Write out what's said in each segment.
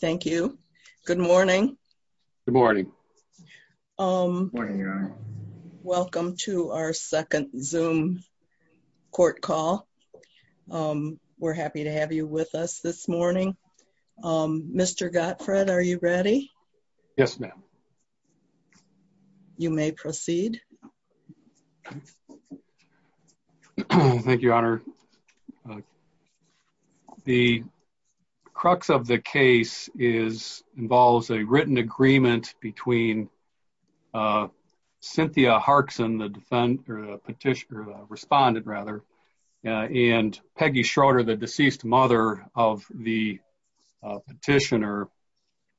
Thank you. Good morning. Good morning. Welcome to our second zoom court call. We're happy to have you with us this morning. Mr. Gottfried, are you ready? Yes, ma'am. You may proceed. Thank you, Your Honor. The crux of the case involves a written agreement between Cynthia Harksen, the defendant, or the petitioner, respondent rather, and Peggy Schroeder, the deceased mother of the petitioner,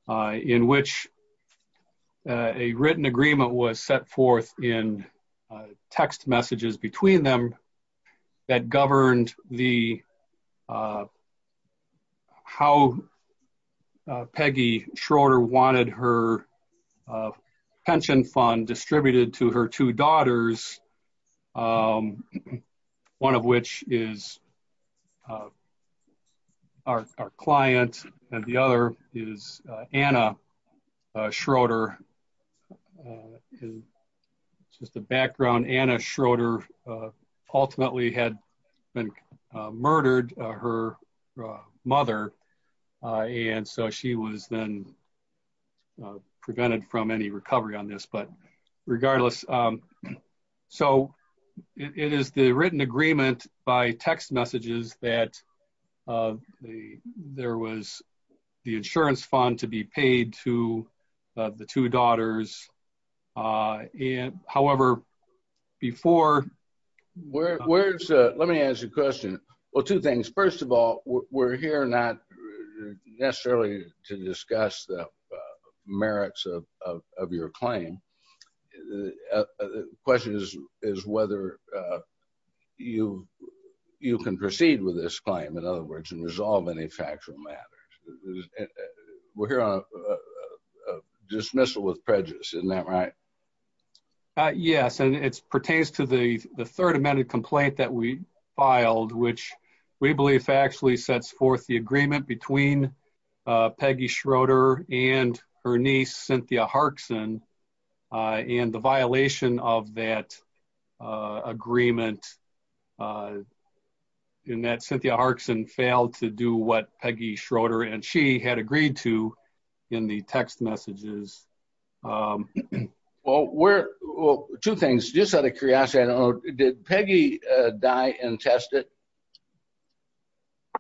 in which a written agreement was set forth in text messages between them that governed how Peggy Schroeder wanted her pension fund distributed to her two daughters, one of which is our client, and the other is Anna Schroeder. Just the background, Anna Schroeder ultimately had been murdered, her mother, and so she was then prevented from any recovery on this. But regardless, so it is the written agreement by text messages that there was the insurance fund to be paid to the two daughters. However, before... Let me ask you a question. Well, two things. First of all, we're here not necessarily to discuss the merits of your claim. The question is whether you can proceed with this claim, in other words, and resolve any factual matters. We're here on a dismissal with prejudice, isn't that right? Yes, and it pertains to the third amended complaint that we filed, which we believe actually sets forth the agreement between Peggy Schroeder and her niece, Cynthia Harksen, and the violation of that agreement in that Cynthia Harksen failed to do what Peggy Schroeder and she had agreed to in the text messages. Well, two things. Just out of curiosity, I don't know, did Peggy die and test it?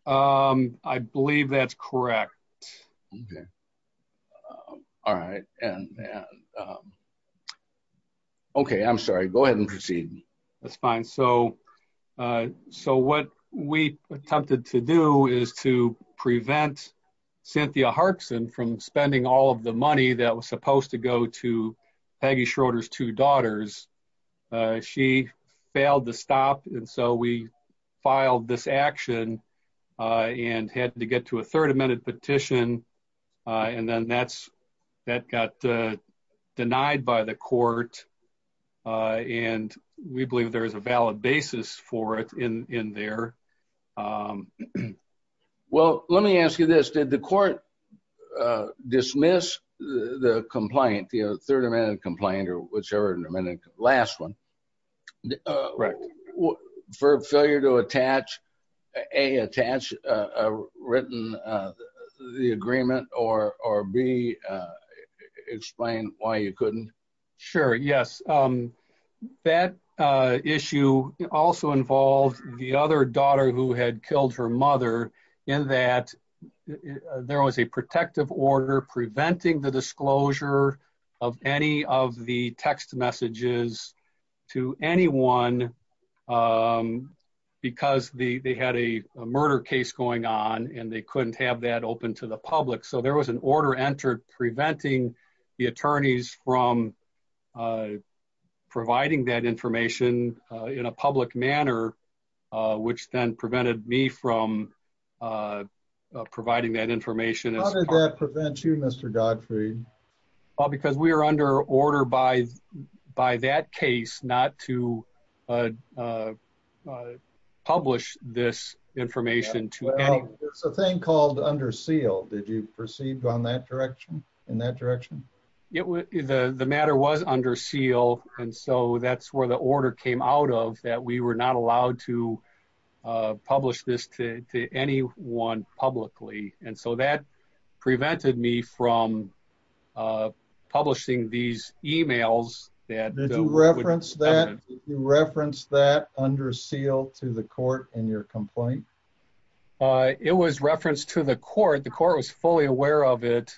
I believe that's correct. Okay, I'm sorry. Go ahead and proceed. That's fine. So what we attempted to do is to prevent Cynthia Harksen from spending all of the money that was supposed to go to Peggy Schroeder's two daughters. She failed to stop, and so we filed this action and had to get to a third amended petition, and then that got denied by the court, and we believe there is a valid basis for it in there. Well, let me ask you this. Did the court dismiss the complaint, the third amended complaint or whichever last one, for failure to attach, A, attach a written, the agreement, or B, explain why you couldn't? Sure, yes. That issue also involved the other daughter who had killed her mother in that there was a protective order preventing the disclosure of any of the text messages to anyone because they had a murder case going on, and they couldn't have that open to the attorneys from providing that information in a public manner, which then prevented me from providing that information. How did that prevent you, Mr. Godfrey? Because we are under order by that case not to publish this information to anyone. It's a thing called under seal. Did you proceed on that direction, in that direction? The matter was under seal, and so that's where the order came out of that we were not allowed to publish this to anyone publicly, and so that prevented me from publishing these emails. Did you reference that under seal to the court in your complaint? It was referenced to the court. The court was fully aware of it,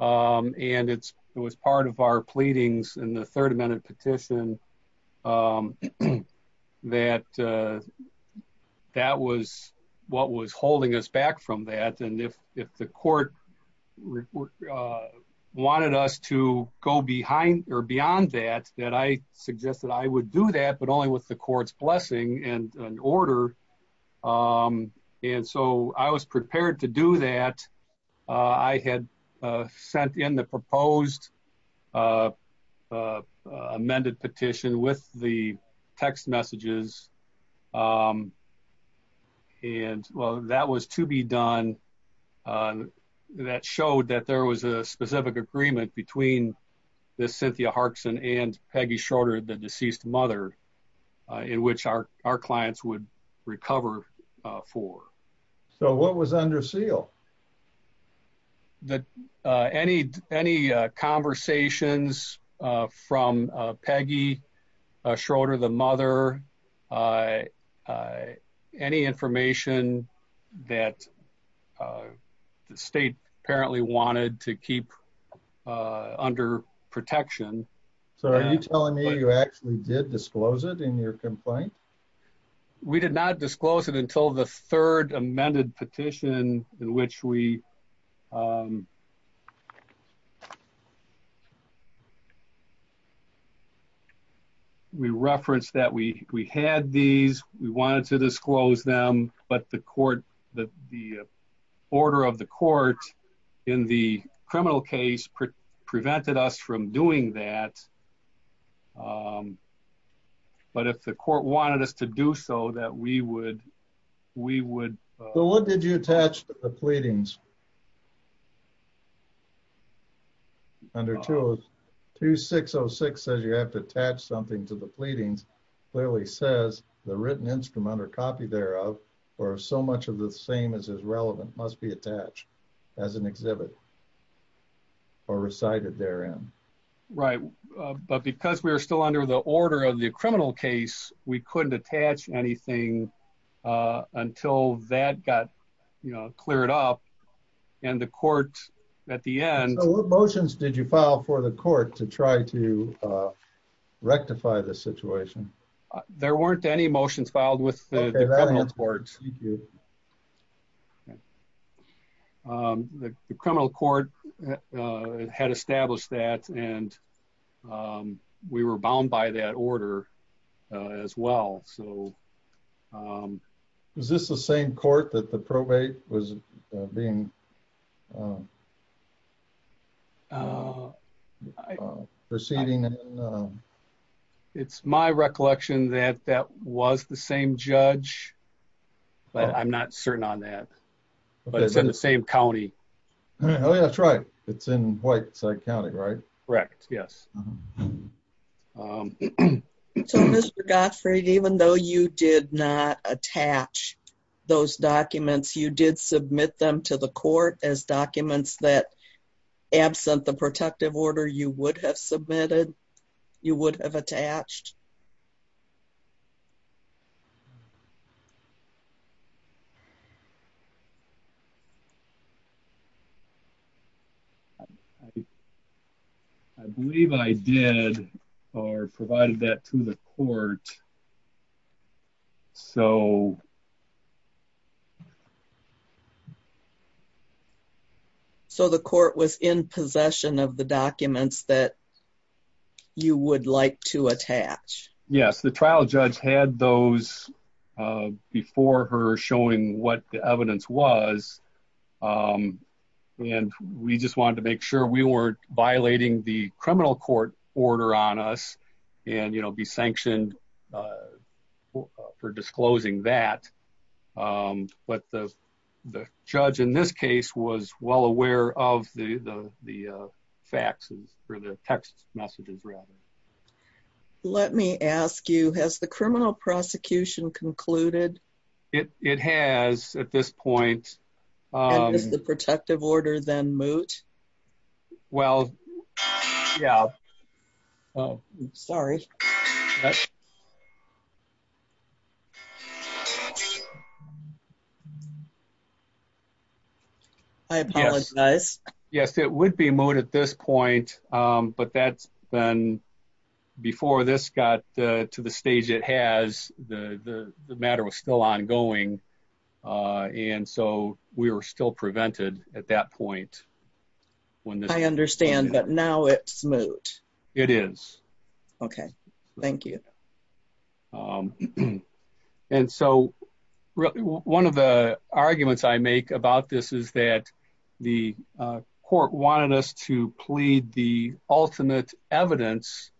and it was part of our pleadings in the third amendment petition that that was what was holding us back from that, and if the court wanted us to go behind or beyond that, then I suggested I would do that, but only with the court's blessing and an order and so I was prepared to do that. I had sent in the proposed amended petition with the text messages, and well, that was to be done. That showed that there was a specific agreement between the Cynthia Harkson and Peggy Schroeder, the deceased mother, in which our clients would cover for. So what was under seal? Any conversations from Peggy Schroeder, the mother, any information that the state apparently wanted to keep under protection. So are you telling me you actually did disclose it in your complaint? We did not disclose it until the third amended petition in which we referenced that we had these, we wanted to disclose them, but the order of the court in the criminal case prevented us from doing that. But if the court wanted us to do so, that we would, we would. So what did you attach to the pleadings under 2606 says you have to attach something to the pleadings, clearly says the written instrument or copy thereof or so much of the same as is relevant must be attached as an criminal case. We couldn't attach anything until that got cleared up and the court at the end. So what motions did you file for the court to try to rectify the situation? There weren't any motions filed with the criminal court. We did. The criminal court had established that and we were bound by that order as well. So is this the same court that the probate was being a proceeding? It's my recollection that that was the same judge, but I'm not certain on that, but it's in the same County. Oh yeah, that's right. It's in white side County, right? Correct. Yes. So Mr. Godfrey, even though you did not attach those documents, you did submit them to the court, did you submit documents that absent the protective order you would have submitted, you would have attached? I believe I did or provided that to the court. So the court was in possession of the documents that you would like to attach. Yes. The trial judge had those before her showing what the evidence was. And we just wanted to make sure we weren't violating the criminal court order on us and, you know, be sanctioned for disclosing that. But the judge in this case was well aware of the faxes or the text messages rather. Let me ask you, has the criminal prosecution concluded? It has at this point. Is the protective order then moot? Well, yeah. Oh, sorry. I apologize. Yes, it would be moot at this point. But that's been before this got to the stage it has, the matter was still ongoing. And so we were still prevented at that point. I understand, but now it's moot. It is. Okay. Thank you. And so one of the arguments I make about this is that the court wanted us to plead the ultimate evidence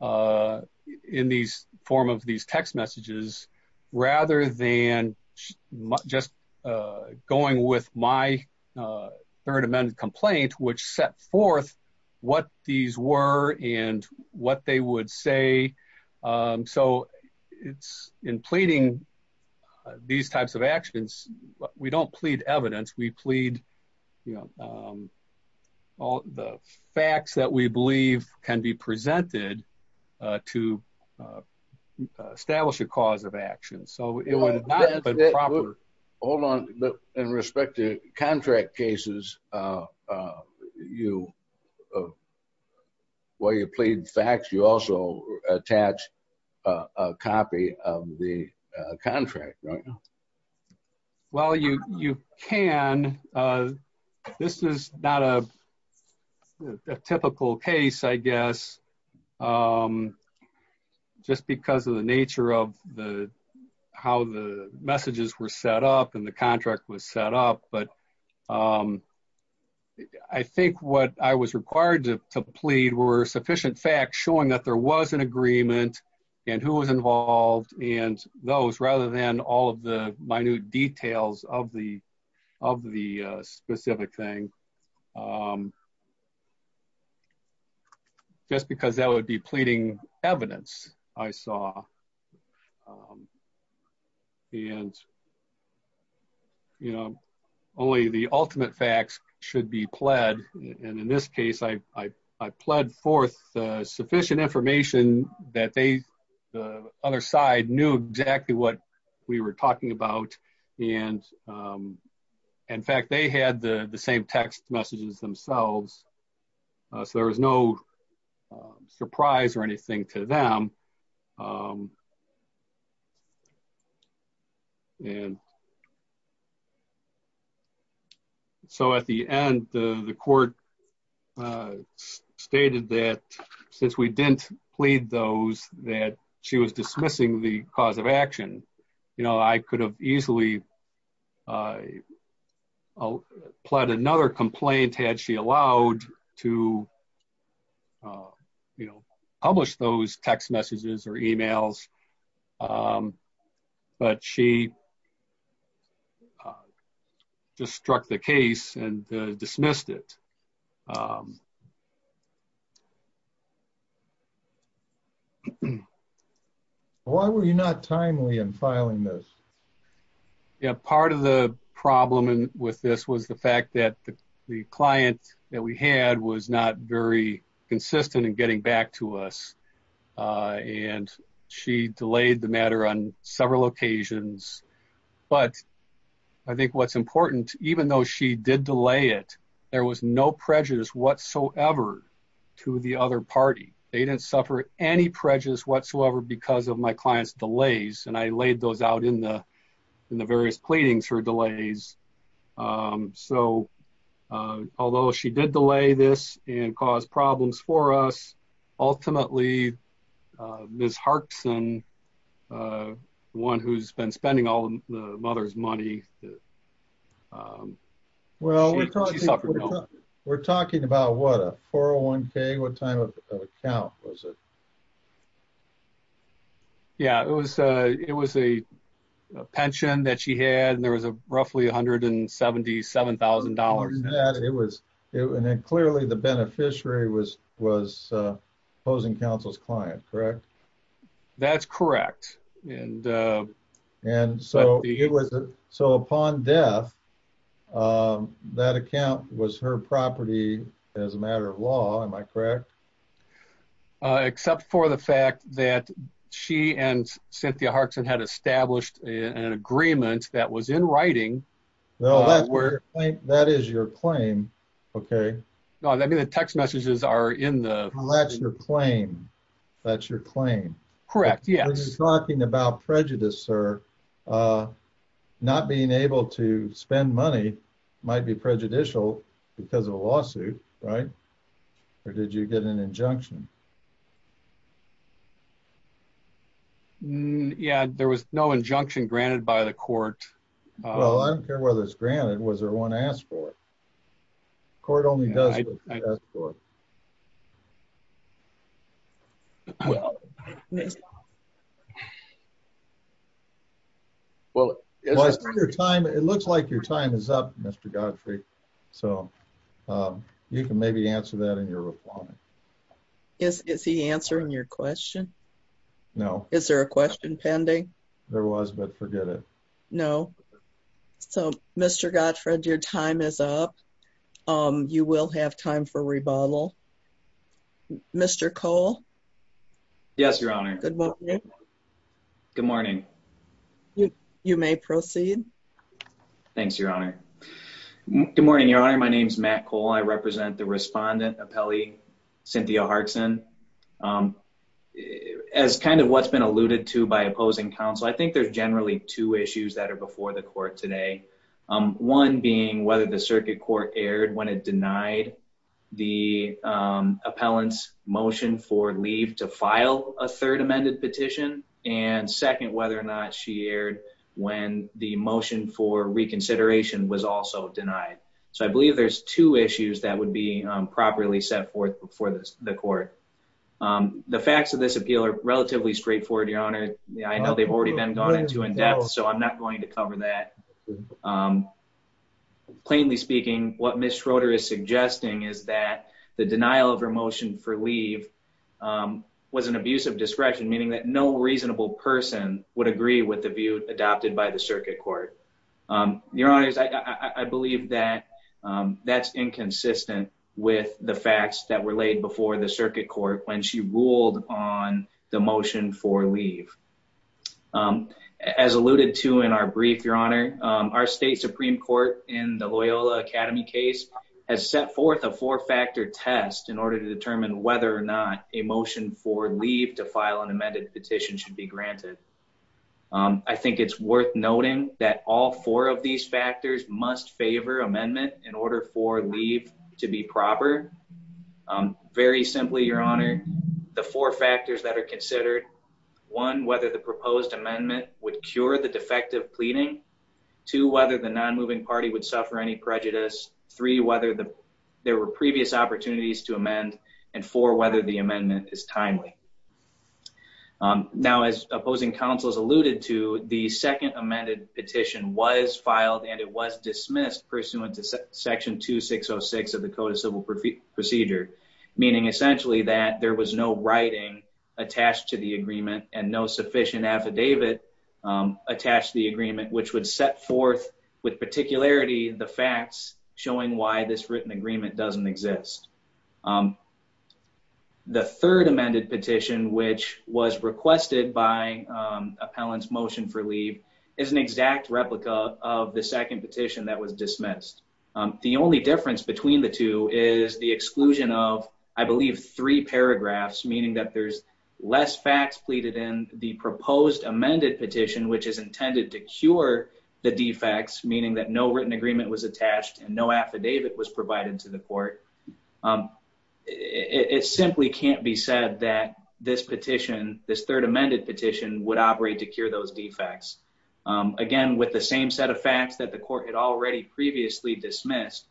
in these form of these text messages, rather than just going with my third amendment complaint, which set forth what these were and what they would say. So it's in pleading these types of actions, we don't plead evidence, we plead, you know, all the facts that we believe can be presented to establish a cause of action. Hold on. In respect to contract cases, while you plead facts, you also attach a copy of the contract, right? Well, you can. This is not a typical case, I guess. Just because of the nature of how the messages were set up and the contract was set up. But I think what I was required to plead were sufficient facts showing that there was an all of the minute details of the specific thing. Just because that would be pleading evidence, I saw. And, you know, only the ultimate facts should be pled. And in this case, I pled forth sufficient information that they, the other side, knew exactly what we were talking about. And, in fact, they had the same text messages themselves. So there was no surprise or anything to them. And so at the end, the court stated that since we didn't plead those, that she was dismissing the cause of action, you know, I could have easily pled another complaint had she allowed to, you know, publish those text messages or emails. But she just struck the case and dismissed it. Why were you not timely in filing this? Yeah, part of the problem with this was the fact that the client that we had was not very consistent in getting back to us. And she delayed the matter on but I think what's important, even though she did delay it, there was no prejudice whatsoever to the other party. They didn't suffer any prejudice whatsoever because of my client's delays. And I laid those out in the various pleadings for delays. So although she did delay this and cause problems for us, ultimately, Ms. Harkson, the one who's been spending all the mother's money. Well, we're talking about what, a 401k? What time of account was it? Yeah, it was a pension that she had and there was a roughly $177,000. It was clearly the beneficiary was opposing counsel's client, correct? That's correct. So upon death, that account was her property as a matter of law, am I correct? Except for the fact that she and Cynthia Harkson had established an agreement that was in writing. Well, that is your claim. Okay. No, I mean, the text messages are in the... That's your claim. That's your claim. Correct. Yes. Talking about prejudice, sir. Not being able to spend money might be prejudicial because of a lawsuit, right? Or did you get an injunction? Yeah, there was no injunction granted by the court. Well, I don't care whether it's granted, was there one asked for it? The court only does what they ask for. Well, it looks like your time is up, Mr. Gottfried. So you can maybe answer that in your reply. Is he answering your question? No. Is there a question pending? There was, but forget it. No. So Mr. Gottfried, your time is up. You will have time for rebuttal. Mr. Cole? Yes, Your Honor. Good morning. Good morning. You may proceed. Thanks, Your Honor. Good morning, Your Honor. My name is Matt Cole. I represent the respondent Cynthia Harkson. As kind of what's been alluded to by opposing counsel, I think there's generally two issues that are before the court today. One being whether the circuit court erred when it denied the appellant's motion for leave to file a third amended petition. And second, whether or not she erred when the motion for reconsideration was also denied. So I believe there's two issues that would be properly set forth before the court. The facts of this appeal are relatively straightforward, Your Honor. I know they've already been gone into in depth, so I'm not going to cover that. Plainly speaking, what Ms. Schroeder is suggesting is that the denial of her motion for leave was an abuse of discretion, meaning that no reasonable person would agree with the view with the facts that were laid before the circuit court when she ruled on the motion for leave. As alluded to in our brief, Your Honor, our state Supreme Court in the Loyola Academy case has set forth a four-factor test in order to determine whether or not a motion for leave to file an amended petition should be granted. I think it's worth noting that all four of these to be proper. Very simply, Your Honor, the four factors that are considered, one, whether the proposed amendment would cure the defective pleading, two, whether the non-moving party would suffer any prejudice, three, whether there were previous opportunities to amend, and four, whether the amendment is timely. Now, as opposing counsels alluded to, the second amended petition was filed and it was dismissed pursuant to Section 2606 of the Code of Civil Procedure, meaning essentially that there was no writing attached to the agreement and no sufficient affidavit attached to the agreement, which would set forth with particularity the facts showing why this written agreement doesn't exist. The third amended petition, which was requested by appellant's motion for leave, is an exact replica of the second petition that was dismissed. The only difference between the two is the exclusion of, I believe, three paragraphs, meaning that there's less facts pleaded in. The proposed amended petition, which is intended to cure the defects, meaning that no written agreement was attached and no affidavit was provided to the court, it simply can't be said that this petition, this third amended petition, would operate to cure those defects. Again, with the same set of facts that the court had already previously dismissed,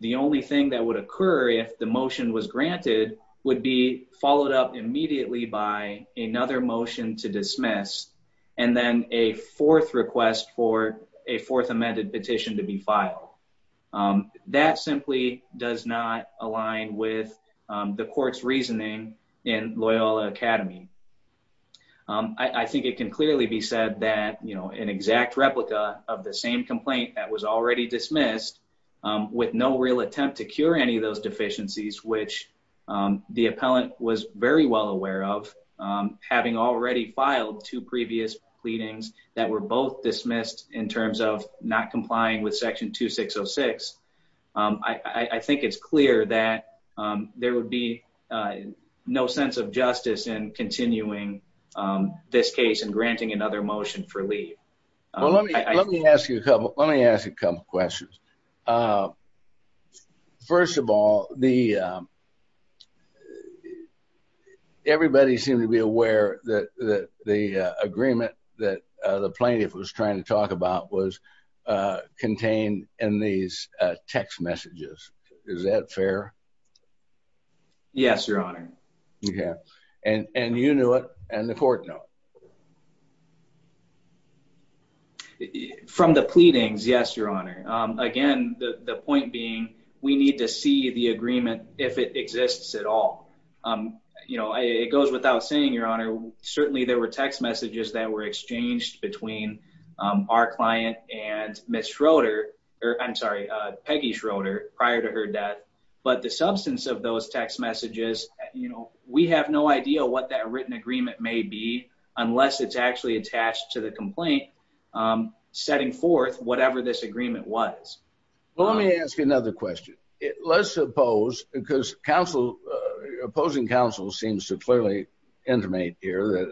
the only thing that would occur if the motion was granted would be followed up immediately by another motion to dismiss and then a fourth request for a fourth amended petition to be filed. That simply does not align with the court's reasoning in Loyola Academy. I think it can clearly be said that, you know, an exact replica of the same complaint that was already dismissed, with no real attempt to cure any of those deficiencies, which the appellant was very well aware of, having already filed two previous pleadings that were both dismissed in terms of not complying with section 2606, I think it's clear that there would be no sense of justice in continuing this case and granting another motion for leave. Well, let me ask you a couple questions. First of all, everybody seemed to be aware that the agreement that the plaintiff was trying to talk about was contained in these text messages. Is that fair? Yes, Your Honor. And you knew it and the court know? From the pleadings, yes, Your Honor. Again, the point being we need to see the agreement if it exists at all. You know, it goes without saying, Your Honor, certainly there were text messages that were exchanged between our client and Ms. Schroeder, or I'm sorry, Peggy Schroeder, prior to her death. But the substance of those text messages, you know, we have no idea what that written agreement may be unless it's actually attached to the complaint setting forth whatever this agreement was. Well, let me ask you another question. Let's suppose, because opposing counsel seems to clearly intimate here,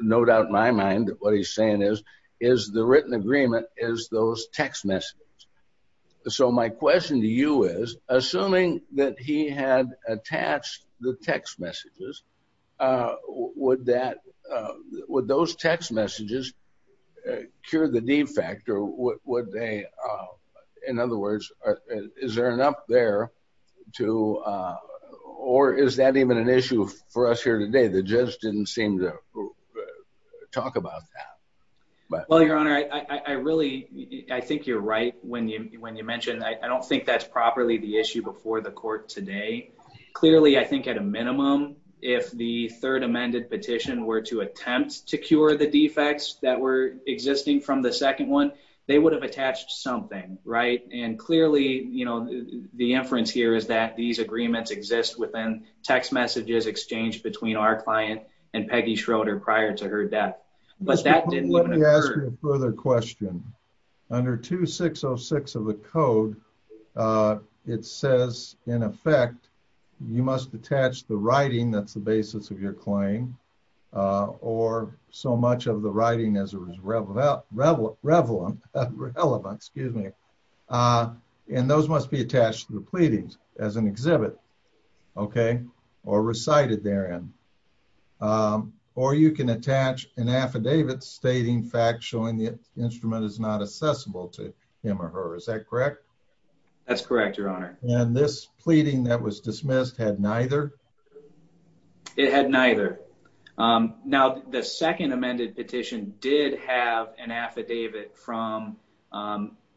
no doubt in my mind that what he's saying is, is the written agreement is those text messages. So my question to you is, assuming that he had attached the text messages, would that, would those text messages cure the defect or would they, in other words, is there an up there to, or is that even an issue for us here today? The judge didn't seem to talk about that. Well, Your Honor, I really, I think you're right when you, when you mentioned, I don't think that's properly the issue before the court today. Clearly, I think at a minimum, if the third amended petition were to attempt to cure the defects that were existing from the you know, the inference here is that these agreements exist within text messages exchanged between our client and Peggy Schroeder prior to her death. But that didn't happen. Let me ask you a further question. Under 2606 of the code, it says in effect, you must attach the writing that's in those must be attached to the pleadings as an exhibit, okay, or recited therein. Or you can attach an affidavit stating fact showing the instrument is not accessible to him or her. Is that correct? That's correct, Your Honor. And this pleading that was dismissed had neither? It had neither. Now, the second amended petition did have an affidavit from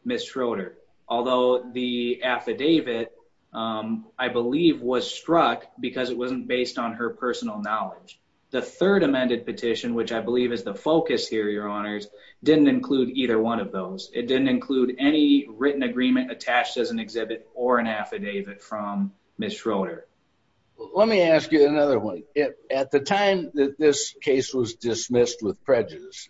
Ms. Schroeder, although the affidavit, I believe was struck because it wasn't based on her personal knowledge. The third amended petition, which I believe is the focus here, Your Honors, didn't include either one of those. It didn't include any written agreement attached as an exhibit or an affidavit from Ms. Schroeder. Let me ask you another one. At the time that this was dismissed with prejudice,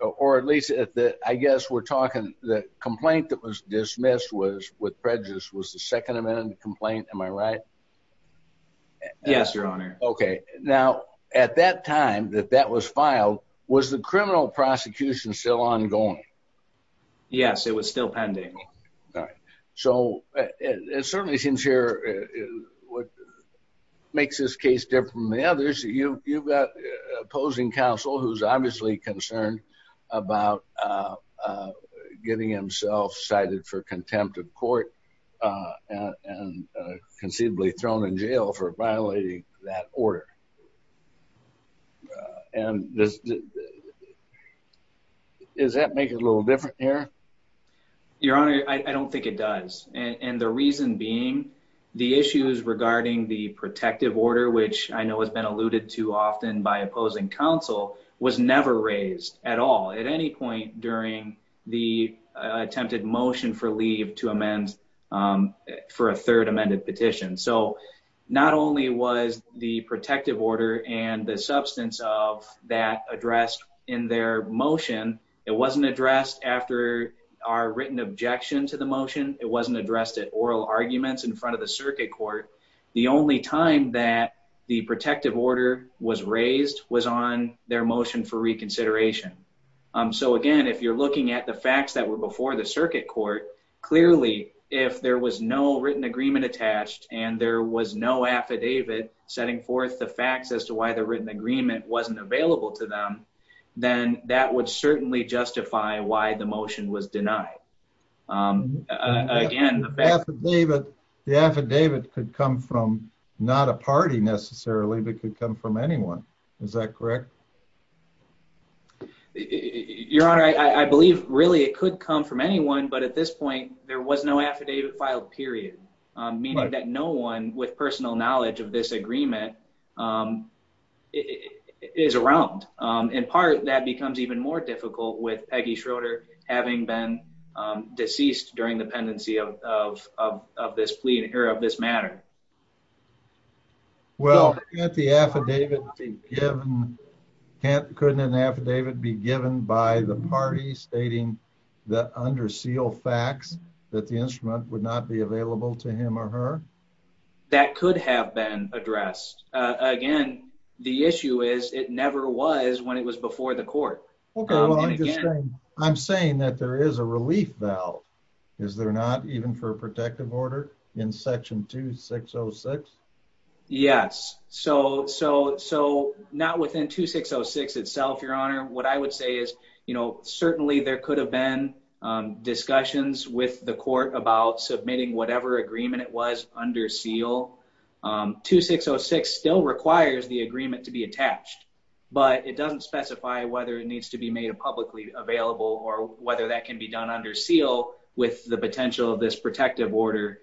or at least at the, I guess we're talking the complaint that was dismissed with prejudice was the second amended complaint. Am I right? Yes, Your Honor. Okay. Now, at that time that that was filed, was the criminal prosecution still ongoing? Yes, it was still pending. All right. So it certainly seems here what makes this case different from the others, you've got opposing counsel who's obviously concerned about getting himself cited for contempt of court and conceivably thrown in jail for violating that order. And does that make it a little different here? Your Honor, I don't think it does. And the reason being, the issues regarding the protective order, which I know has been alluded to often by opposing counsel was never raised at all at any point during the attempted motion for leave to amend for a third amended petition. So not only was the protective order and the substance of that addressed in their motion, it wasn't addressed after our written objection to the motion. It wasn't addressed at oral arguments in front of the circuit court. The only time that the protective order was raised was on their motion for reconsideration. So again, if you're looking at the facts that were before the circuit court, clearly if there was no written agreement attached and there was no affidavit setting forth the facts as to why the written agreement wasn't available to them, then that would certainly justify why the motion was denied. Again, the affidavit could come from not a party necessarily, but could come from anyone. Is that correct? Your Honor, I believe really it could come from anyone, but at this point there was no affidavit filed, period. Meaning that no one with personal knowledge of this agreement is around. In part, that becomes even more difficult with Peggy Schroeder having been deceased during the pendency of this matter. Well, couldn't an affidavit be given by the party stating the under seal facts that the instrument would not be available to him or her? That could have been addressed. Again, the issue is it never was when it was before the court. I'm saying that there is a relief valve. Is there not even for a protective order in section 2606? Yes. So not within 2606 itself, Your Honor. What I would say is, you know, certainly there could have been discussions with the court about submitting whatever agreement it was under seal. 2606 still requires the agreement to be attached, but it doesn't specify whether it needs to be made publicly available or whether that can be done under seal with the potential of this protective order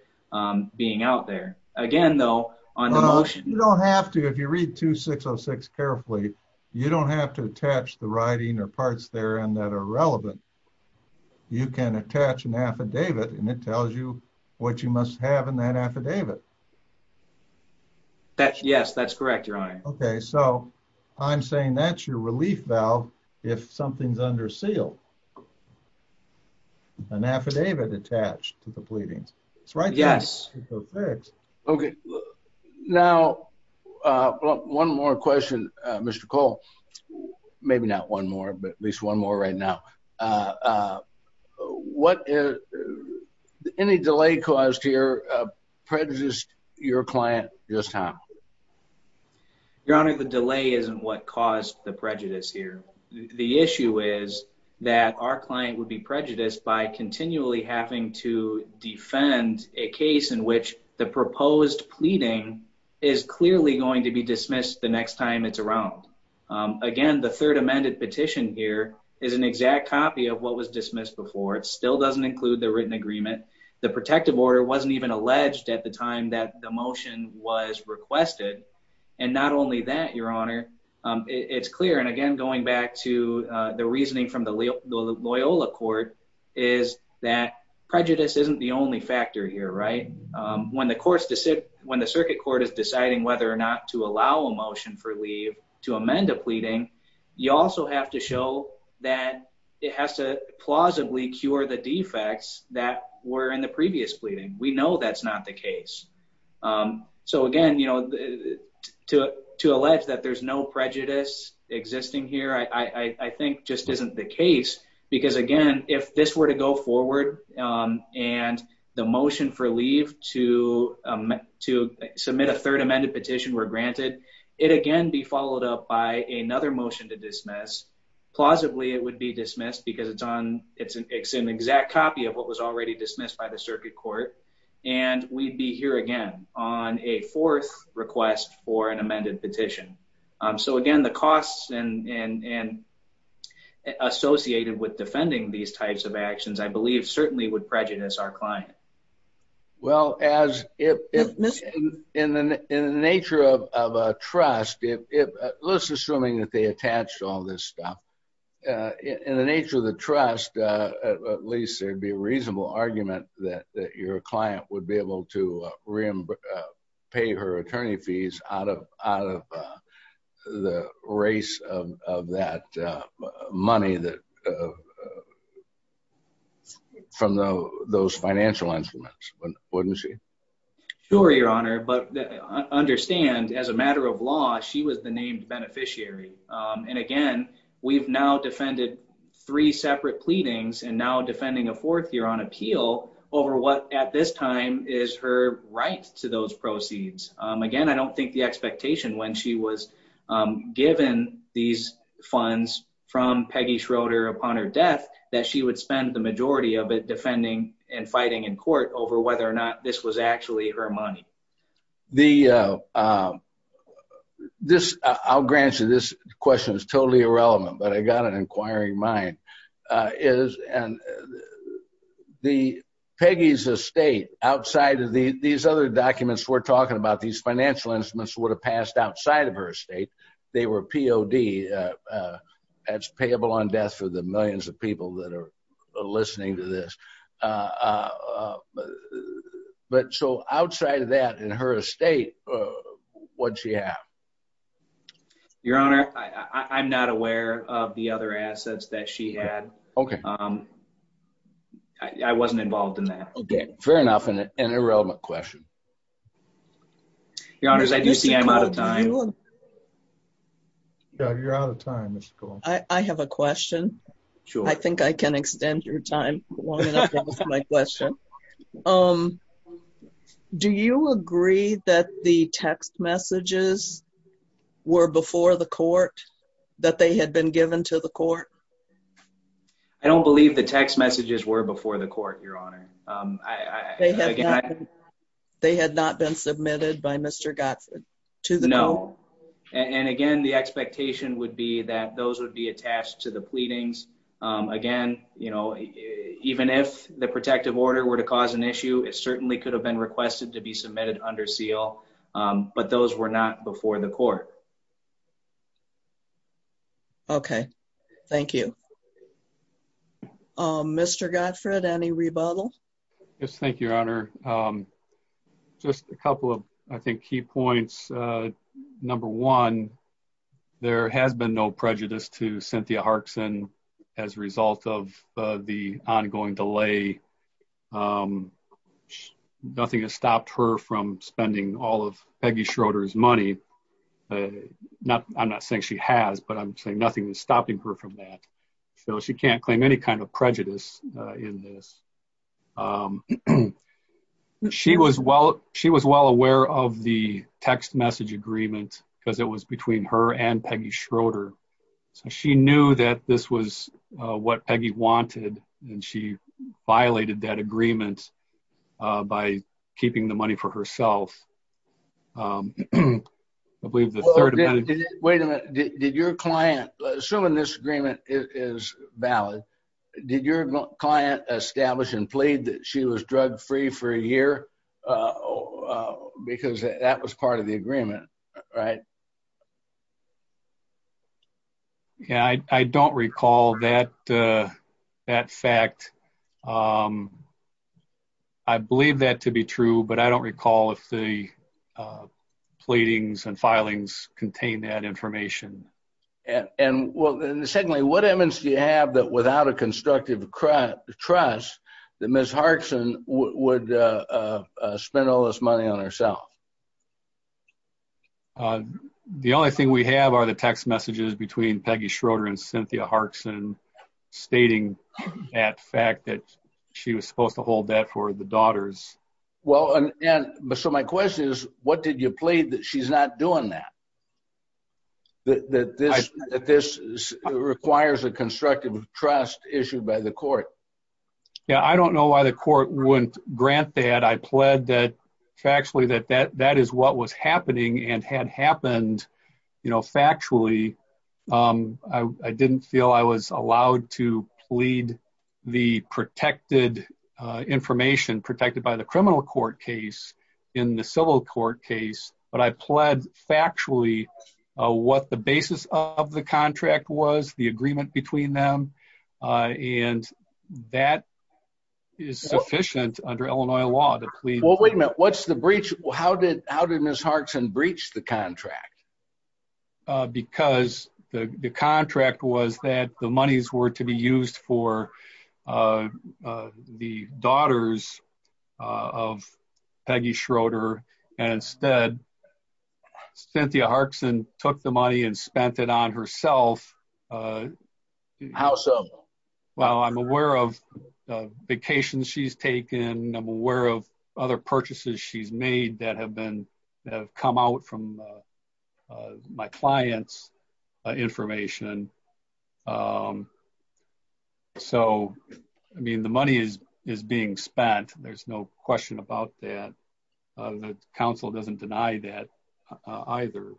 being out there. Again though, on the motion... You don't have to. If you read 2606 carefully, you don't have to attach the you must have in that affidavit. Yes, that's correct, Your Honor. Okay, so I'm saying that's your relief valve if something's under seal. An affidavit attached to the pleadings. It's right there. Yes. Okay. Now, one more question, Mr. Cole. Maybe not one more, but at least one more right now. Any delay caused here prejudiced your client just now? Your Honor, the delay isn't what caused the prejudice here. The issue is that our client would be prejudiced by continually having to defend a case in which the proposed pleading is clearly going to be dismissed the next time it's around. Again, the third amended petition here is an exact copy of what was dismissed before. It still doesn't include the written agreement. The protective order wasn't even alleged at the time that the motion was requested. And not only that, Your Honor, it's clear. And again, going back to the reasoning from the Loyola court is that prejudice isn't the only factor here, right? When the circuit court is deciding whether or not to allow a motion for leave to amend a pleading, you also have to show that it has to plausibly cure the defects that were in the previous pleading. We know that's not the case. So again, to allege that there's no prejudice existing here, I think just isn't the case. Because again, if this were to go forward and the motion for leave to submit a third amended petition were granted, it again be followed up by another motion to dismiss. Plausibly, it would be dismissed because it's an exact copy of what was already dismissed by the circuit court. And we'd be here again on a fourth request for an amended petition. So again, the costs associated with defending these types of actions, I believe certainly would prejudice our client. Well, in the nature of a trust, let's assuming that they attached all this stuff, in the nature of the trust, at least there'd be a reasonable argument that your client would be exempt from those financial instruments, wouldn't she? Sure, Your Honor, but understand as a matter of law, she was the named beneficiary. And again, we've now defended three separate pleadings and now defending a fourth year on appeal over what at this time is her right to those proceeds. Again, I don't think the expectation when she was given these funds from Peggy Schroeder upon her death, that she would spend the majority of it defending and fighting in court over whether or not this was actually her money. I'll grant you this question is totally irrelevant, but I got an inquiring mind. The Peggy's estate outside of these other documents we're talking about, these financial instruments would have passed outside of her estate. They were POD, that's payable on death for the millions of people that are listening to this. But so outside of that in her estate, what'd she have? Your Honor, I'm not aware of the other assets that she had. Okay. I wasn't involved in that. Fair enough. An irrelevant question. Your Honors, I do see I'm out of time. You're out of time, Mr. Cole. I have a question. I think I can extend your time long enough to answer my question. Do you agree that the text messages were before the court, that they had been given to the court? I don't believe the text messages were before the court, Your Honor. They had not been submitted by Mr. Godson to the court? No. And again, the expectation would be that those would be attached to the pleadings. Again, even if the protective order were to cause an issue, it certainly could have been requested to be submitted under seal, but those were not before the court. Okay. Thank you. Mr. Godfrey, any rebuttal? Yes. Thank you, Your Honor. Just a couple of, I think, key points. Number one, there has been no prejudice to Cynthia Harkson as a result of the ongoing delay. Nothing has stopped her from spending all of Peggy Schroeder's money. I'm not saying she has, but I'm saying nothing is stopping her from that. She can't claim any kind of prejudice in this. She was well aware of the text message agreement because it was between her and Peggy Schroeder. She knew that this was what Peggy wanted, and she violated that agreement by keeping the money for herself. I believe the third amendment... Wait a minute. Did your client, assuming this agreement is valid, did your client establish and plead that she was drug free for a year because that was part of the agreement, right? Yeah. I don't recall that fact. I believe that to be true, but I don't recall if the pleadings and filings contain that information. And secondly, what evidence do you have that without a constructive trust, that Ms. Harkson would spend all this money on herself? The only thing we have are the text messages between Peggy Schroeder and Cynthia Harkson stating that fact that she was supposed to hold that for the daughters. Well, so my question is, what did you plead that she's not doing that? That this requires a constructive trust issued by the court? Yeah, I don't know why the court wouldn't grant that. I pled that factually that that is what was happening and had happened factually. I didn't feel I was allowed to plead the protected information protected by the criminal court case in the civil court case, but I pled factually what the basis of the contract was, the agreement between them, and that is sufficient under Illinois law to plead. Wait a minute, what's the breach? How did Ms. Harkson breach the contract? Because the contract was that the monies were to be used for the daughters of Peggy Schroeder, and instead Cynthia Harkson took the money and spent it on herself. How so? Well, I'm aware of vacations she's taken. I'm aware of other purchases she's made that have come out from my clients' information. So, I mean, the money is being spent. There's no question about that. The council doesn't deny that either.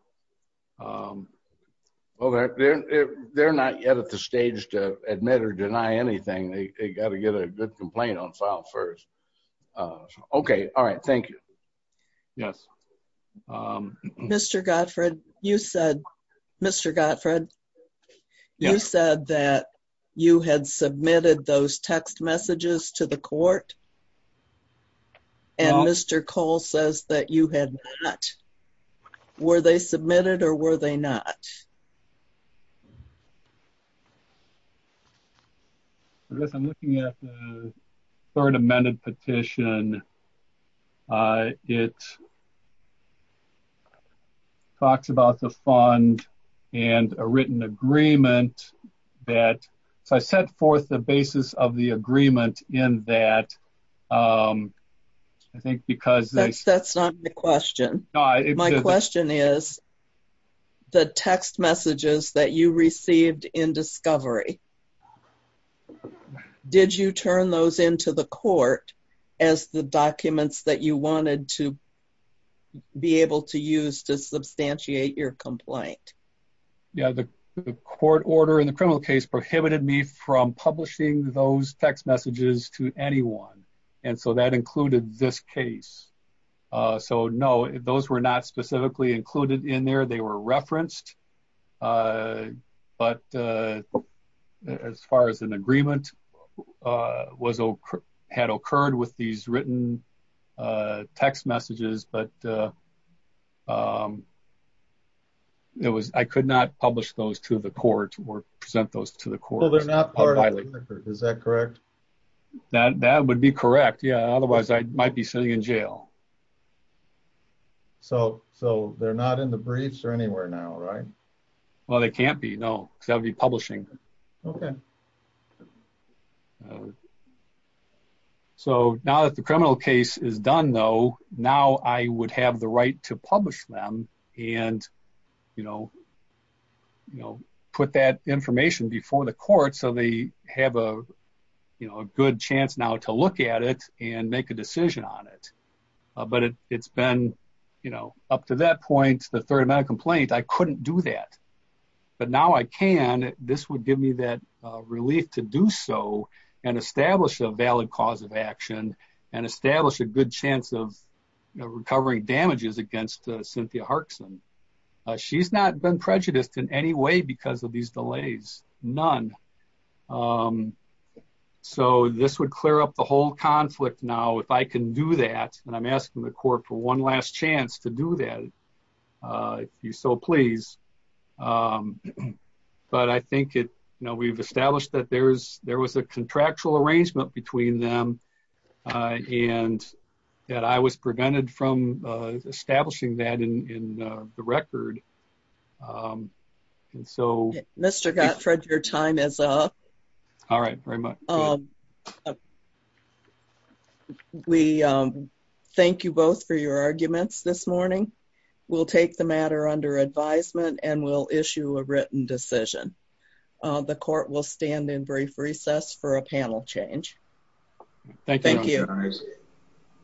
Well, they're not yet at the stage to admit or deny anything. They got to get a good complaint on file first. Okay. All right. Thank you. Yes. Mr. Gottfried, you said, Mr. Gottfried, you said that you had submitted those text messages to the court, and Mr. Cole says that you had not. Were they submitted, or were they not? I guess I'm looking at the third amended petition. It talks about the fund and a written agreement that, so I set forth the basis of the agreement in that, I think because... That's not the question. My question is, the text messages that you received in discovery, did you turn those into the court as the documents that you wanted to be able to use to substantiate your complaint? Yeah. The court order in the criminal case prohibited me from publishing those text messages to anyone. And so that included this case. So, no, those were not specifically included in there. They were referenced, but as far as an agreement had occurred with these written text messages, but it was, I could not publish those to the court or present those to the court. Is that correct? That would be correct. Yeah. Otherwise I might be sitting in jail. So, they're not in the briefs or anywhere now, right? Well, they can't be, no, because that would be publishing. Okay. Okay. So, now that the criminal case is done though, now I would have the right to publish them and put that information before the court. So, they have a good chance now to look at it and make a decision on it. But it's been up to that point, the third amount of complaint, I couldn't do that, but now I can, this would give me that relief to do so and establish a valid cause of action and establish a good chance of recovering damages against Cynthia Harkson. She's not been prejudiced in any way because of these delays, none. So, this would clear up the whole conflict. Now, if I can do that and I'm asking the court for one last chance to do that, if you so please. But I think we've established that there was a contractual arrangement between them and that I was prevented from establishing that in the record. And so- Mr. Gottfried, your time is up. All right, very much. Okay. We thank you both for your arguments this morning. We'll take the matter under advisement and we'll issue a written decision. The court will stand in brief recess for a panel change. Thank you.